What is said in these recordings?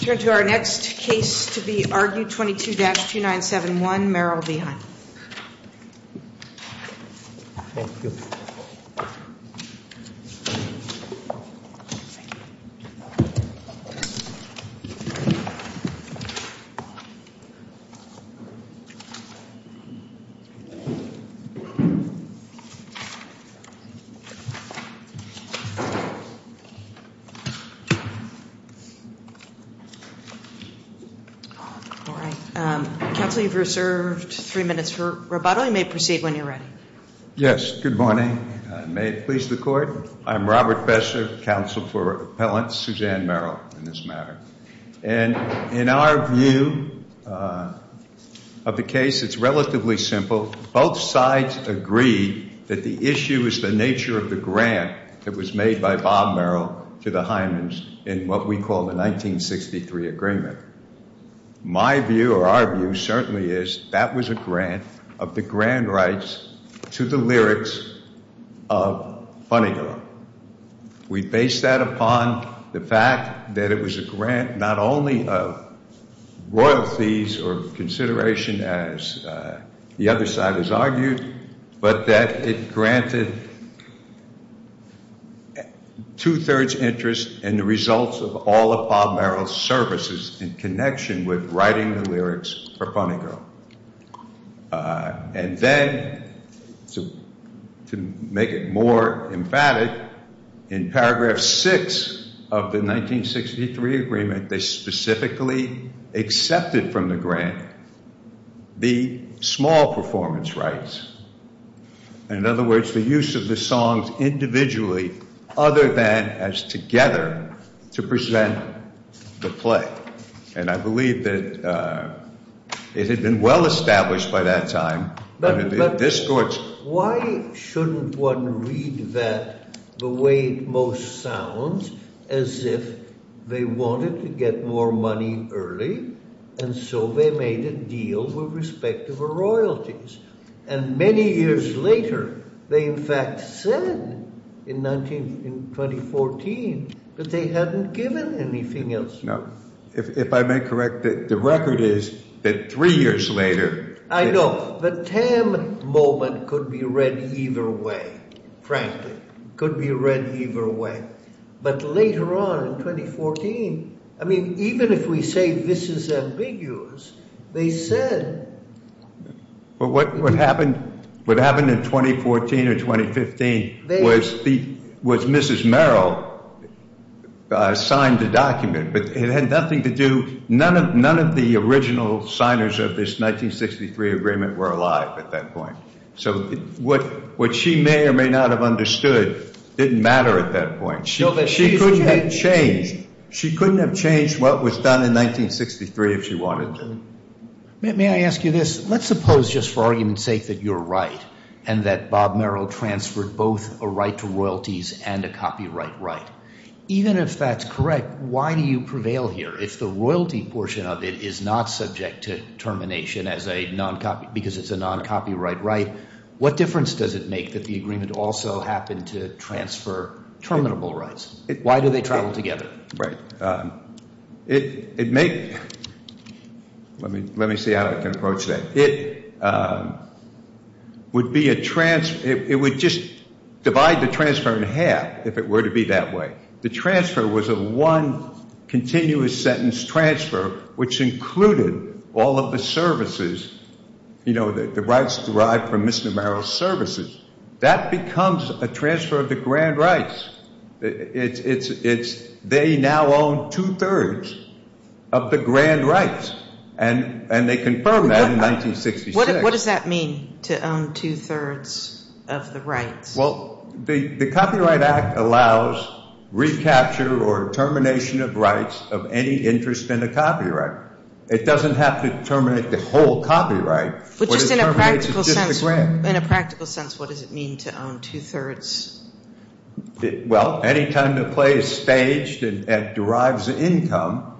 Turn to our next case to be argued, 22-2971, Merrill v. Hyman. All right. Counsel, you've reserved three minutes for rebuttal. You may proceed when you're ready. Yes. Good morning. May it please the Court? I'm Robert Fesser, counsel for Appellant Suzanne Merrill in this matter. And in our view of the case, it's relatively simple. Both sides agree that the issue is the nature of the grant that was made by Bob Merrill to the Hymans in what we call the 1963 agreement. My view or our view certainly is that was a grant of the grand rights to the lyrics of Funny Girl. We base that upon the fact that it was a grant not only of royalties or consideration as the other side has argued, but that it granted two-thirds interest in the results of all of Bob Merrill's services in connection with writing the lyrics for Funny Girl. And then to make it more emphatic, in paragraph six of the 1963 agreement, they specifically accepted from the grant the small performance rights. In other words, the use of the songs individually other than as together to present the play. And I believe that it had been well established by that time. Why shouldn't one read that the way it most sounds as if they wanted to get more money early. And so they made a deal with respect to the royalties. And many years later, they in fact said in 1914 that they hadn't given anything else. If I may correct that the record is that three years later. I know the TAM moment could be read either way, frankly, could be read either way. But later on in 2014, I mean, even if we say this is ambiguous, they said. But what happened in 2014 or 2015 was Mrs. Merrill signed the document, but it had nothing to do. None of the original signers of this 1963 agreement were alive at that point. So what she may or may not have understood didn't matter at that point. She couldn't have changed. She couldn't have changed what was done in 1963 if she wanted to. May I ask you this? Let's suppose just for argument's sake that you're right and that Bob Merrill transferred both a right to royalties and a copyright right. Even if that's correct, why do you prevail here? If the royalty portion of it is not subject to termination as a non-copy because it's a non-copyright right, what difference does it make that the agreement also happened to transfer terminable rights? Why do they travel together? Right. It may. Let me see how I can approach that. It would be a transfer. It would just divide the transfer in half if it were to be that way. The transfer was a one continuous sentence transfer which included all of the services, you know, the rights derived from Mr. Merrill's services. That becomes a transfer of the grand rights. It's they now own two-thirds of the grand rights, and they confirmed that in 1966. What does that mean, to own two-thirds of the rights? Well, the Copyright Act allows recapture or termination of rights of any interest in a copyright. It doesn't have to terminate the whole copyright. But just in a practical sense, what does it mean to own two-thirds? Well, any time the play is staged and derives income,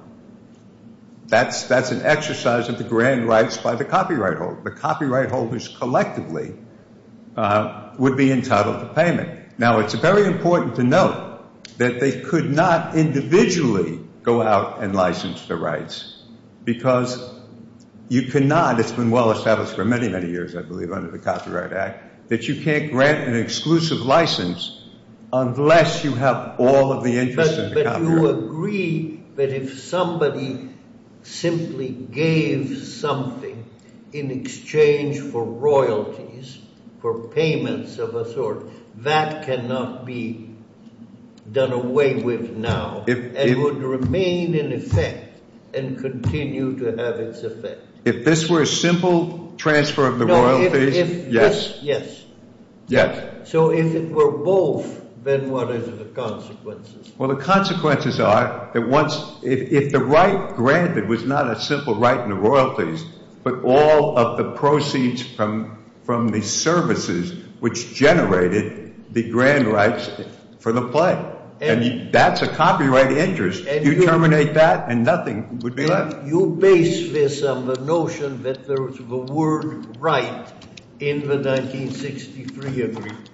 that's an exercise of the grand rights by the copyright holder. The copyright holders collectively would be entitled to payment. Now, it's very important to note that they could not individually go out and license the rights because you cannot. It's been well established for many, many years, I believe, under the Copyright Act that you can't grant an exclusive license unless you have all of the interests in the copyright. Do you agree that if somebody simply gave something in exchange for royalties, for payments of a sort, that cannot be done away with now and would remain in effect and continue to have its effect? If this were a simple transfer of the royalties, yes. Yes. Yes. So if it were both, then what are the consequences? Well, the consequences are that if the right granted was not a simple right in the royalties, but all of the proceeds from the services which generated the grand rights for the play, and that's a copyright interest, you terminate that and nothing would be left. You base this on the notion that there was the word right in the 1963 agreement.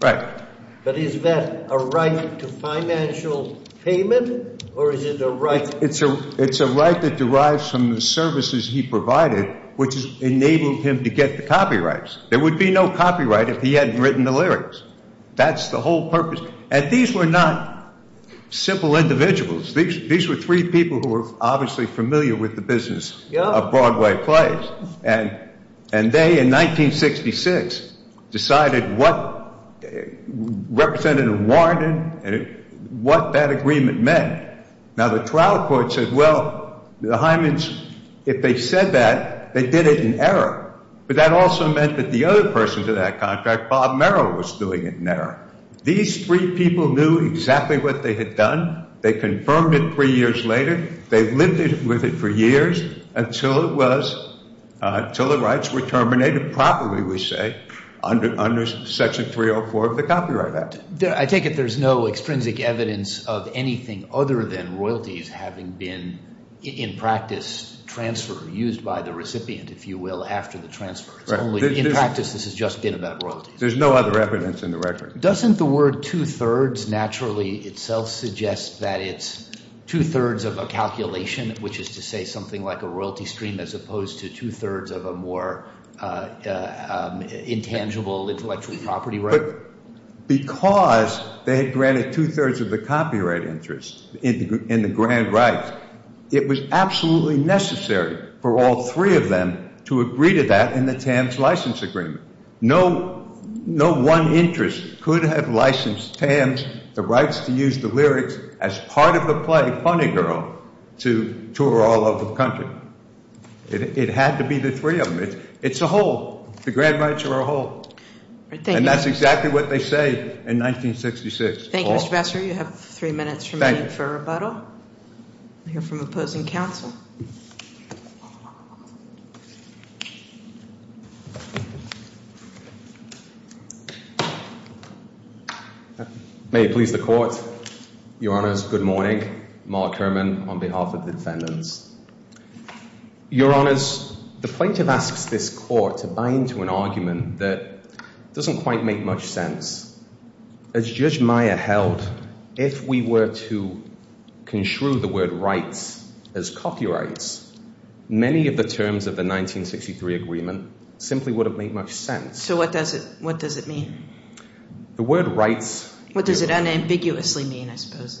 Right. But is that a right to financial payment, or is it a right? It's a right that derives from the services he provided, which enabled him to get the copyrights. There would be no copyright if he hadn't written the lyrics. That's the whole purpose. And these were not simple individuals. These were three people who were obviously familiar with the business of Broadway plays. And they, in 1966, decided what representative warranted and what that agreement meant. Now, the trial court said, well, the Hymens, if they said that, they did it in error. But that also meant that the other person to that contract, Bob Merrill, was doing it in error. These three people knew exactly what they had done. They confirmed it three years later. They lived with it for years until the rights were terminated properly, we say, under Section 304 of the Copyright Act. I take it there's no extrinsic evidence of anything other than royalties having been in practice transferred, used by the recipient, if you will, after the transfer. It's only in practice this has just been about royalties. There's no other evidence in the record. Doesn't the word two-thirds naturally itself suggest that it's two-thirds of a calculation, which is to say something like a royalty stream as opposed to two-thirds of a more intangible intellectual property right? But because they had granted two-thirds of the copyright interest in the grand rights, it was absolutely necessary for all three of them to agree to that in the TAMS license agreement. No one interest could have licensed TAMS the rights to use the lyrics as part of the play Funny Girl to tour all over the country. It had to be the three of them. It's a whole. The grand rights were a whole. And that's exactly what they say in 1966. Thank you, Mr. Bassler. You have three minutes remaining for a rebuttal. We'll hear from opposing counsel. May it please the court. Your honors, good morning. Mark Herman on behalf of the defendants. Your honors, the plaintiff asks this court to buy into an argument that doesn't quite make much sense. As Judge Meyer held, if we were to construe the word rights as copyrights, many of the terms of the 1963 agreement simply wouldn't make much sense. So what does it mean? The word rights. What does it unambiguously mean, I suppose,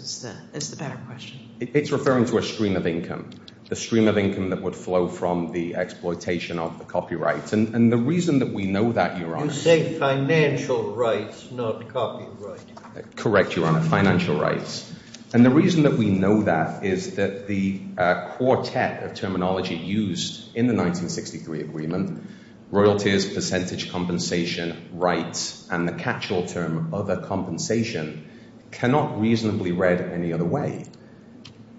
is the better question. It's referring to a stream of income. A stream of income that would flow from the exploitation of the copyrights. And the reason that we know that, Your Honor. You say financial rights, not copyright. Correct, Your Honor. Financial rights. And the reason that we know that is that the quartet of terminology used in the 1963 agreement, royalties, percentage compensation, rights, and the catch-all term other compensation, cannot reasonably read any other way.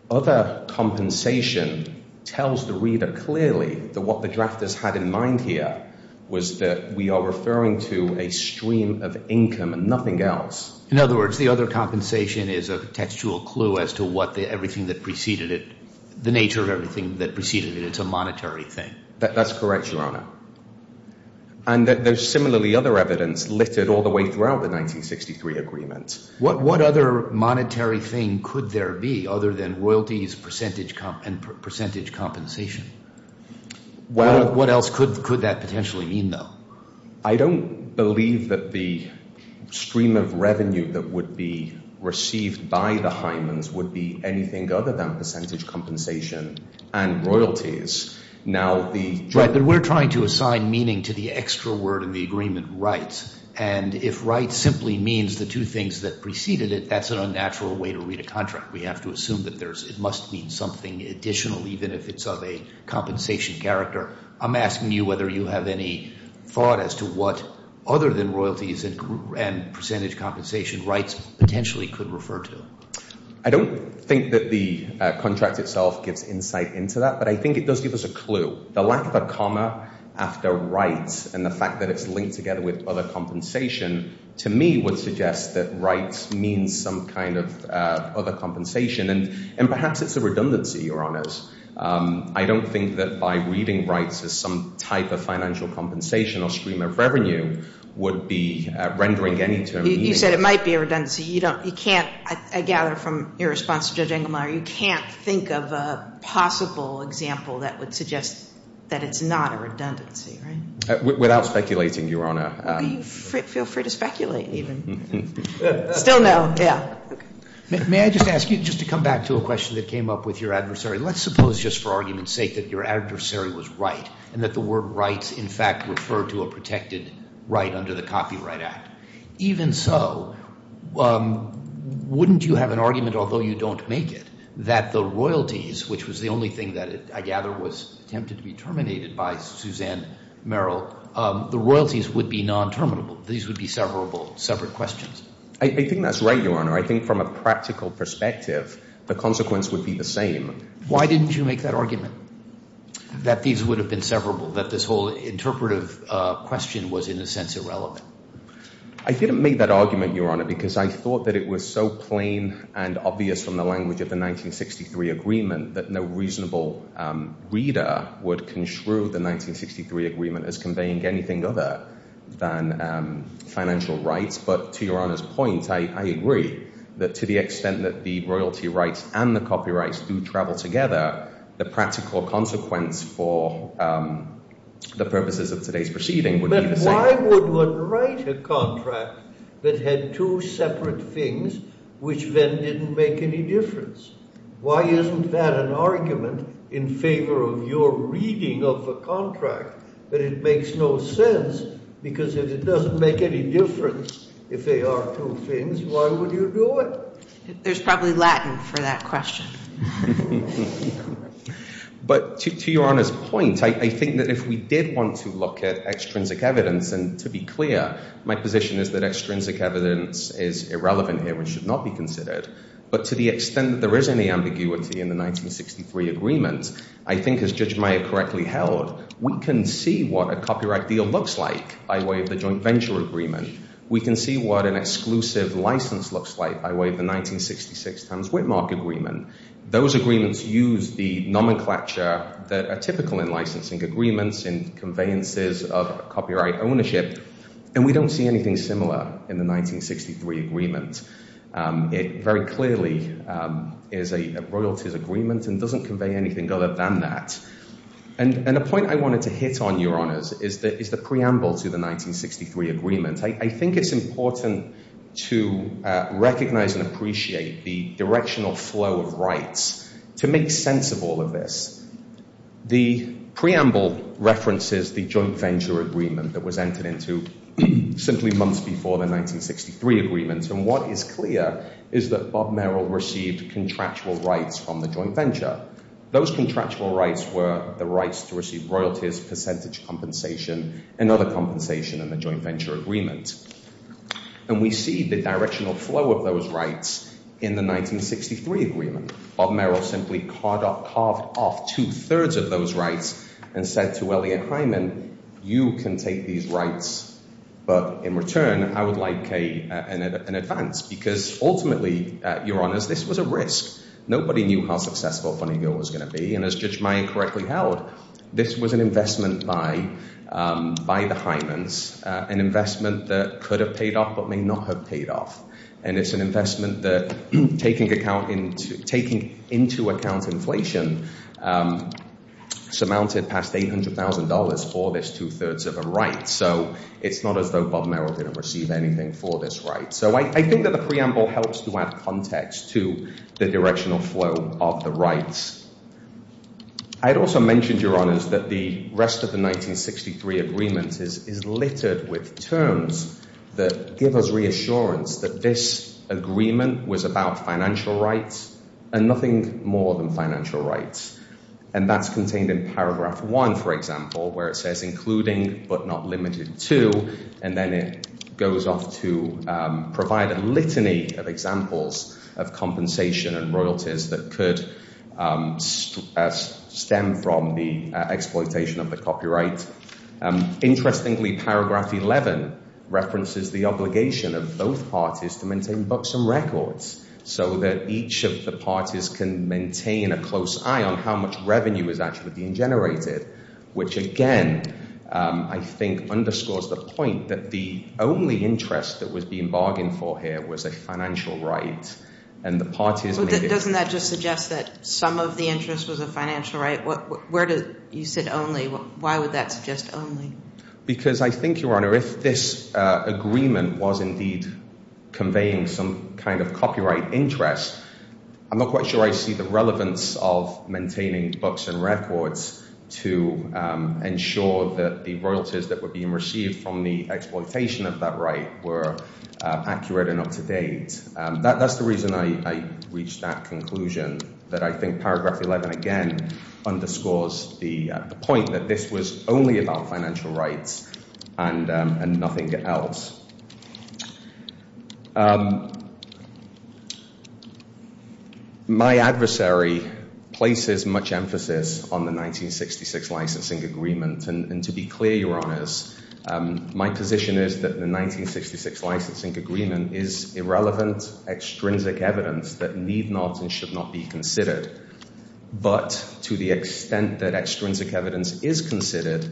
Other compensation tells the reader clearly that what the drafters had in mind here was that we are referring to a stream of income and nothing else. In other words, the other compensation is a textual clue as to what everything that preceded it, the nature of everything that preceded it. It's a monetary thing. That's correct, Your Honor. And there's similarly other evidence littered all the way throughout the 1963 agreement. What other monetary thing could there be other than royalties and percentage compensation? What else could that potentially mean, though? I don't believe that the stream of revenue that would be received by the Hymans would be anything other than percentage compensation and royalties. Now, the drafters. Right, but we're trying to assign meaning to the extra word in the agreement, rights. And if rights simply means the two things that preceded it, that's an unnatural way to read a contract. We have to assume that it must mean something additional, even if it's of a compensation character. I'm asking you whether you have any thought as to what other than royalties and percentage compensation rights potentially could refer to. I don't think that the contract itself gives insight into that, but I think it does give us a clue. The lack of a comma after rights and the fact that it's linked together with other compensation, to me, would suggest that rights means some kind of other compensation. And perhaps it's a redundancy, Your Honors. I don't think that by reading rights as some type of financial compensation or stream of revenue would be rendering any term meaning. You said it might be a redundancy. You can't, I gather from your response to Judge Engelmeyer, you can't think of a possible example that would suggest that it's not a redundancy, right? Without speculating, Your Honor. Feel free to speculate, even. Still no. May I just ask you, just to come back to a question that came up with your adversary, let's suppose just for argument's sake that your adversary was right and that the word rights in fact referred to a protected right under the Copyright Act. Even so, wouldn't you have an argument, although you don't make it, that the royalties, which was the only thing that I gather was attempted to be terminated by Suzanne Merrill, the royalties would be non-terminable. These would be severable, separate questions. I think that's right, Your Honor. I think from a practical perspective, the consequence would be the same. Why didn't you make that argument, that these would have been severable, that this whole interpretive question was in a sense irrelevant? I didn't make that argument, Your Honor, because I thought that it was so plain and obvious from the language of the 1963 agreement that no reasonable reader would construe the 1963 agreement as conveying anything other than financial rights. But to Your Honor's point, I agree that to the extent that the royalty rights and the copyrights do travel together, the practical consequence for the purposes of today's proceeding would be the same. But why would one write a contract that had two separate things which then didn't make any difference? Why isn't that an argument in favor of your reading of a contract? But it makes no sense because if it doesn't make any difference, if they are two things, why would you do it? There's probably Latin for that question. But to Your Honor's point, I think that if we did want to look at extrinsic evidence, and to be clear, my position is that extrinsic evidence is irrelevant here and should not be considered. But to the extent that there is any ambiguity in the 1963 agreement, I think as Judge Meyer correctly held, we can see what a copyright deal looks like by way of the joint venture agreement. We can see what an exclusive license looks like by way of the 1966 Towns Whitmark agreement. Those agreements use the nomenclature that are typical in licensing agreements and conveyances of copyright ownership, and we don't see anything similar in the 1963 agreement. It very clearly is a royalties agreement and doesn't convey anything other than that. And the point I wanted to hit on, Your Honors, is the preamble to the 1963 agreement. I think it's important to recognize and appreciate the directional flow of rights to make sense of all of this. The preamble references the joint venture agreement that was entered into simply months before the 1963 agreement. And what is clear is that Bob Merrill received contractual rights from the joint venture. Those contractual rights were the rights to receive royalties, percentage compensation, and other compensation in the joint venture agreement. And we see the directional flow of those rights in the 1963 agreement. Bob Merrill simply carved off two-thirds of those rights and said to Elliott Hyman, you can take these rights, but in return, I would like an advance. Because ultimately, Your Honors, this was a risk. Nobody knew how successful Funny Girl was going to be, and as Judge Meyer correctly held, this was an investment by the Hymans, an investment that could have paid off but may not have paid off. And it's an investment that, taking into account inflation, surmounted past $800,000 for this two-thirds of a right. So it's not as though Bob Merrill didn't receive anything for this right. So I think that the preamble helps to add context to the directional flow of the rights. I had also mentioned, Your Honors, that the rest of the 1963 agreement is littered with terms that give us reassurance that this agreement was about financial rights and nothing more than financial rights. And that's contained in paragraph one, for example, where it says including but not limited to, and then it goes off to provide a litany of examples of compensation and royalties that could stem from the exploitation of the copyright. Interestingly, paragraph 11 references the obligation of both parties to maintain books and records so that each of the parties can maintain a close eye on how much revenue is actually being generated, which, again, I think underscores the point that the only interest that was being bargained for here was a financial right. And the parties made it. But doesn't that just suggest that some of the interest was a financial right? You said only. Why would that suggest only? Because I think, Your Honor, if this agreement was indeed conveying some kind of copyright interest, I'm not quite sure I see the relevance of maintaining books and records to ensure that the royalties that were being received from the exploitation of that right were accurate and up to date. That's the reason I reached that conclusion, that I think paragraph 11, again, underscores the point that this was only about financial rights and nothing else. My adversary places much emphasis on the 1966 licensing agreement. And to be clear, Your Honors, my position is that the 1966 licensing agreement is irrelevant, extrinsic evidence that need not and should not be considered. But to the extent that extrinsic evidence is considered,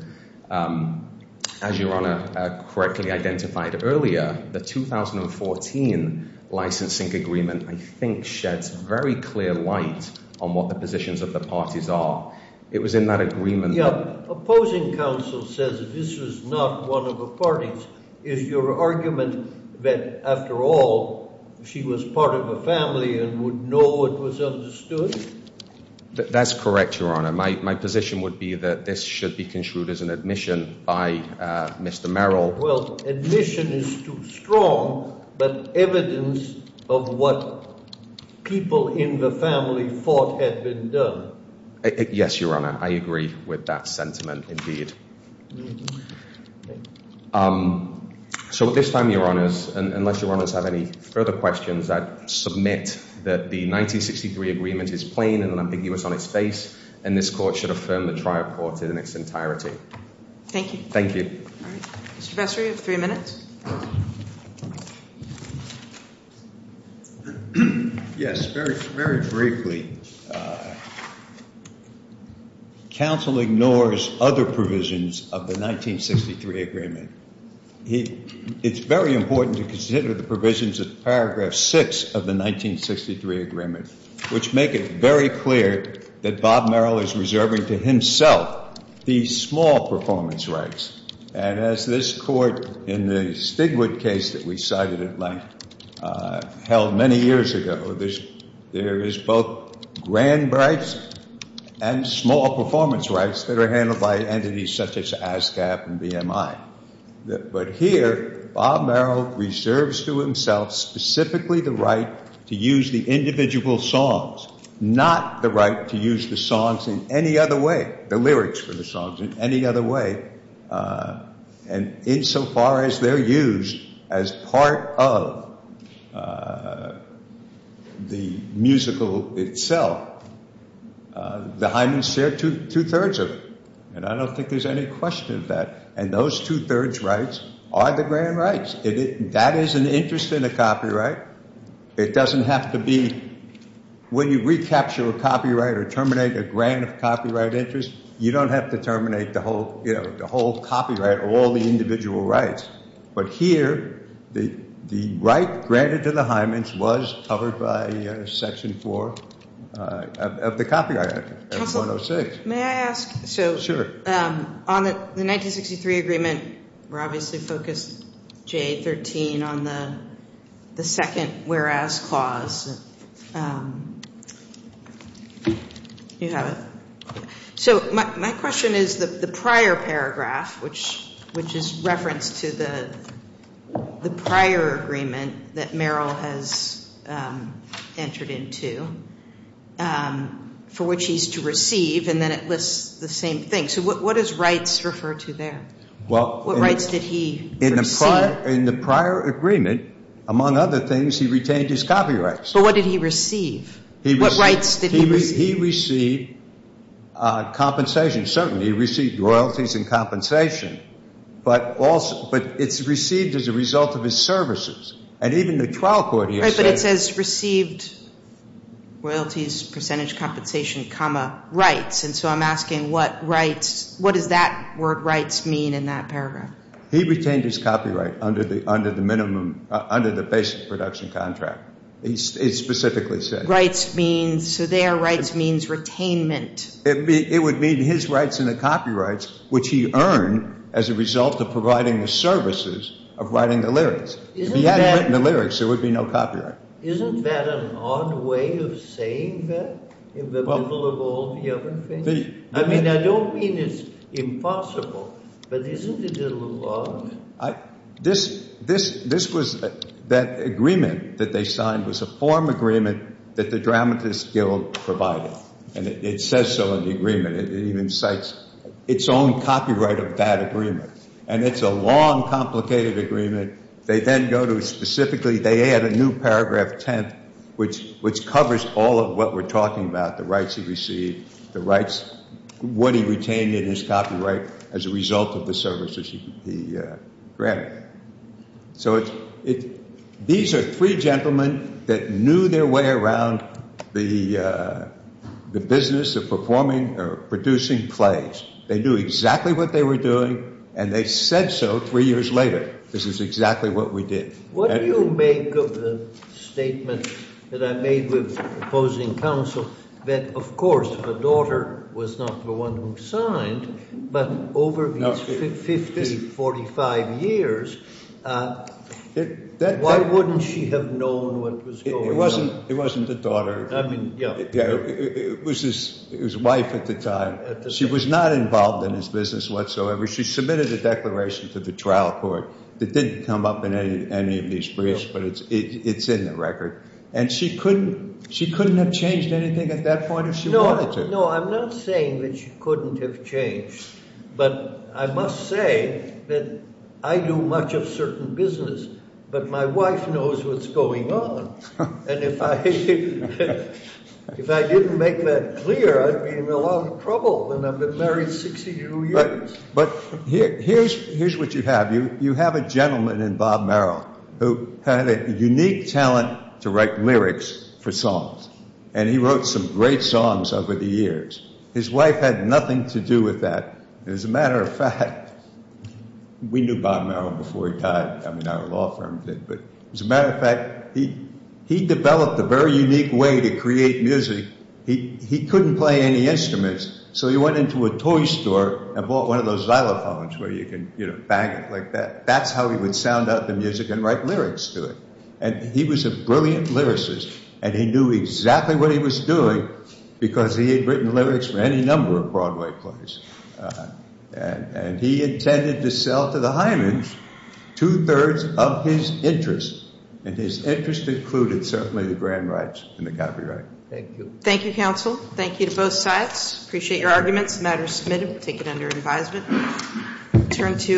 as Your Honor correctly identified earlier, the 2014 licensing agreement, I think, sheds very clear light on what the positions of the parties are. It was in that agreement. Yeah. Opposing counsel says this was not one of the parties. Is your argument that, after all, she was part of a family and would know what was understood? That's correct, Your Honor. My position would be that this should be construed as an admission by Mr. Merrill. Well, admission is too strong, but evidence of what people in the family thought had been done. Yes, Your Honor. I agree with that sentiment, indeed. So at this time, Your Honors, unless Your Honors have any further questions, I submit that the 1963 agreement is plain and unambiguous on its face, and this court should affirm the trial courted in its entirety. Thank you. Thank you. All right. Mr. Vestry, you have three minutes. Yes. Very briefly, counsel ignores other provisions of the 1963 agreement. It's very important to consider the provisions of paragraph 6 of the 1963 agreement, which make it very clear that Bob Merrill is reserving to himself these small performance rights. And as this court in the Stigwood case that we cited at length held many years ago, there is both grand rights and small performance rights that are handled by entities such as ASCAP and BMI. But here, Bob Merrill reserves to himself specifically the right to use the individual songs, not the right to use the songs in any other way, the lyrics for the songs in any other way. And insofar as they're used as part of the musical itself, the Highmen share two-thirds of it. And I don't think there's any question of that. And those two-thirds rights are the grand rights. That is an interest in a copyright. It doesn't have to be. When you recapture a copyright or terminate a grant of copyright interest, you don't have to terminate the whole copyright or all the individual rights. But here, the right granted to the Highmen was covered by Section 4 of the Copyright Act of 106. May I ask? Sure. So on the 1963 agreement, we're obviously focused, J13, on the second whereas clause. You have it? So my question is the prior paragraph, which is reference to the prior agreement that Merrill has entered into, for which he's to receive, and then it lists the same thing. So what does rights refer to there? What rights did he receive? In the prior agreement, among other things, he retained his copyrights. But what did he receive? What rights did he receive? He received compensation. Certainly, he received royalties and compensation. But it's received as a result of his services. And even the trial court here says- Right, but it says received royalties, percentage compensation, comma, rights. And so I'm asking what is that word rights mean in that paragraph? He retained his copyright under the basic production contract. It specifically says- So their rights means retainment. It would mean his rights and the copyrights, which he earned as a result of providing the services of writing the lyrics. If he hadn't written the lyrics, there would be no copyright. Isn't that an odd way of saying that in the middle of all the other things? I mean, I don't mean it's impossible, but isn't it a little odd? That agreement that they signed was a form agreement that the Dramatists Guild provided. And it says so in the agreement. It even cites its own copyright of that agreement. And it's a long, complicated agreement. They then go to specifically- They add a new paragraph, 10th, which covers all of what we're talking about, the rights he received, what he retained in his copyright as a result of the services he granted. So these are three gentlemen that knew their way around the business of performing or producing plays. They knew exactly what they were doing, and they said so three years later. This is exactly what we did. What do you make of the statement that I made with opposing counsel that, of course, the daughter was not the one who signed, but over these 50, 45 years, why wouldn't she have known what was going on? It wasn't the daughter. I mean, yeah. It was his wife at the time. She was not involved in his business whatsoever. She submitted a declaration to the trial court that didn't come up in any of these briefs, but it's in the record. And she couldn't have changed anything at that point if she wanted to. No, I'm not saying that she couldn't have changed. But I must say that I do much of certain business, but my wife knows what's going on. And if I didn't make that clear, I'd be in a lot of trouble. But here's what you have. You have a gentleman in Bob Merrill who had a unique talent to write lyrics for songs. And he wrote some great songs over the years. His wife had nothing to do with that. As a matter of fact, we knew Bob Merrill before he died. I mean, our law firm did. But as a matter of fact, he developed a very unique way to create music. He couldn't play any instruments, so he went into a toy store and bought one of those xylophones where you can, you know, bang it like that. That's how he would sound out the music and write lyrics to it. And he was a brilliant lyricist, and he knew exactly what he was doing because he had written lyrics for any number of Broadway plays. And he intended to sell to the Highmans two-thirds of his interest. And his interest included certainly the grand rights and the copyright. Thank you. Thank you, counsel. Thank you to both sides. Appreciate your arguments. The matter is submitted. We'll take it under advisement.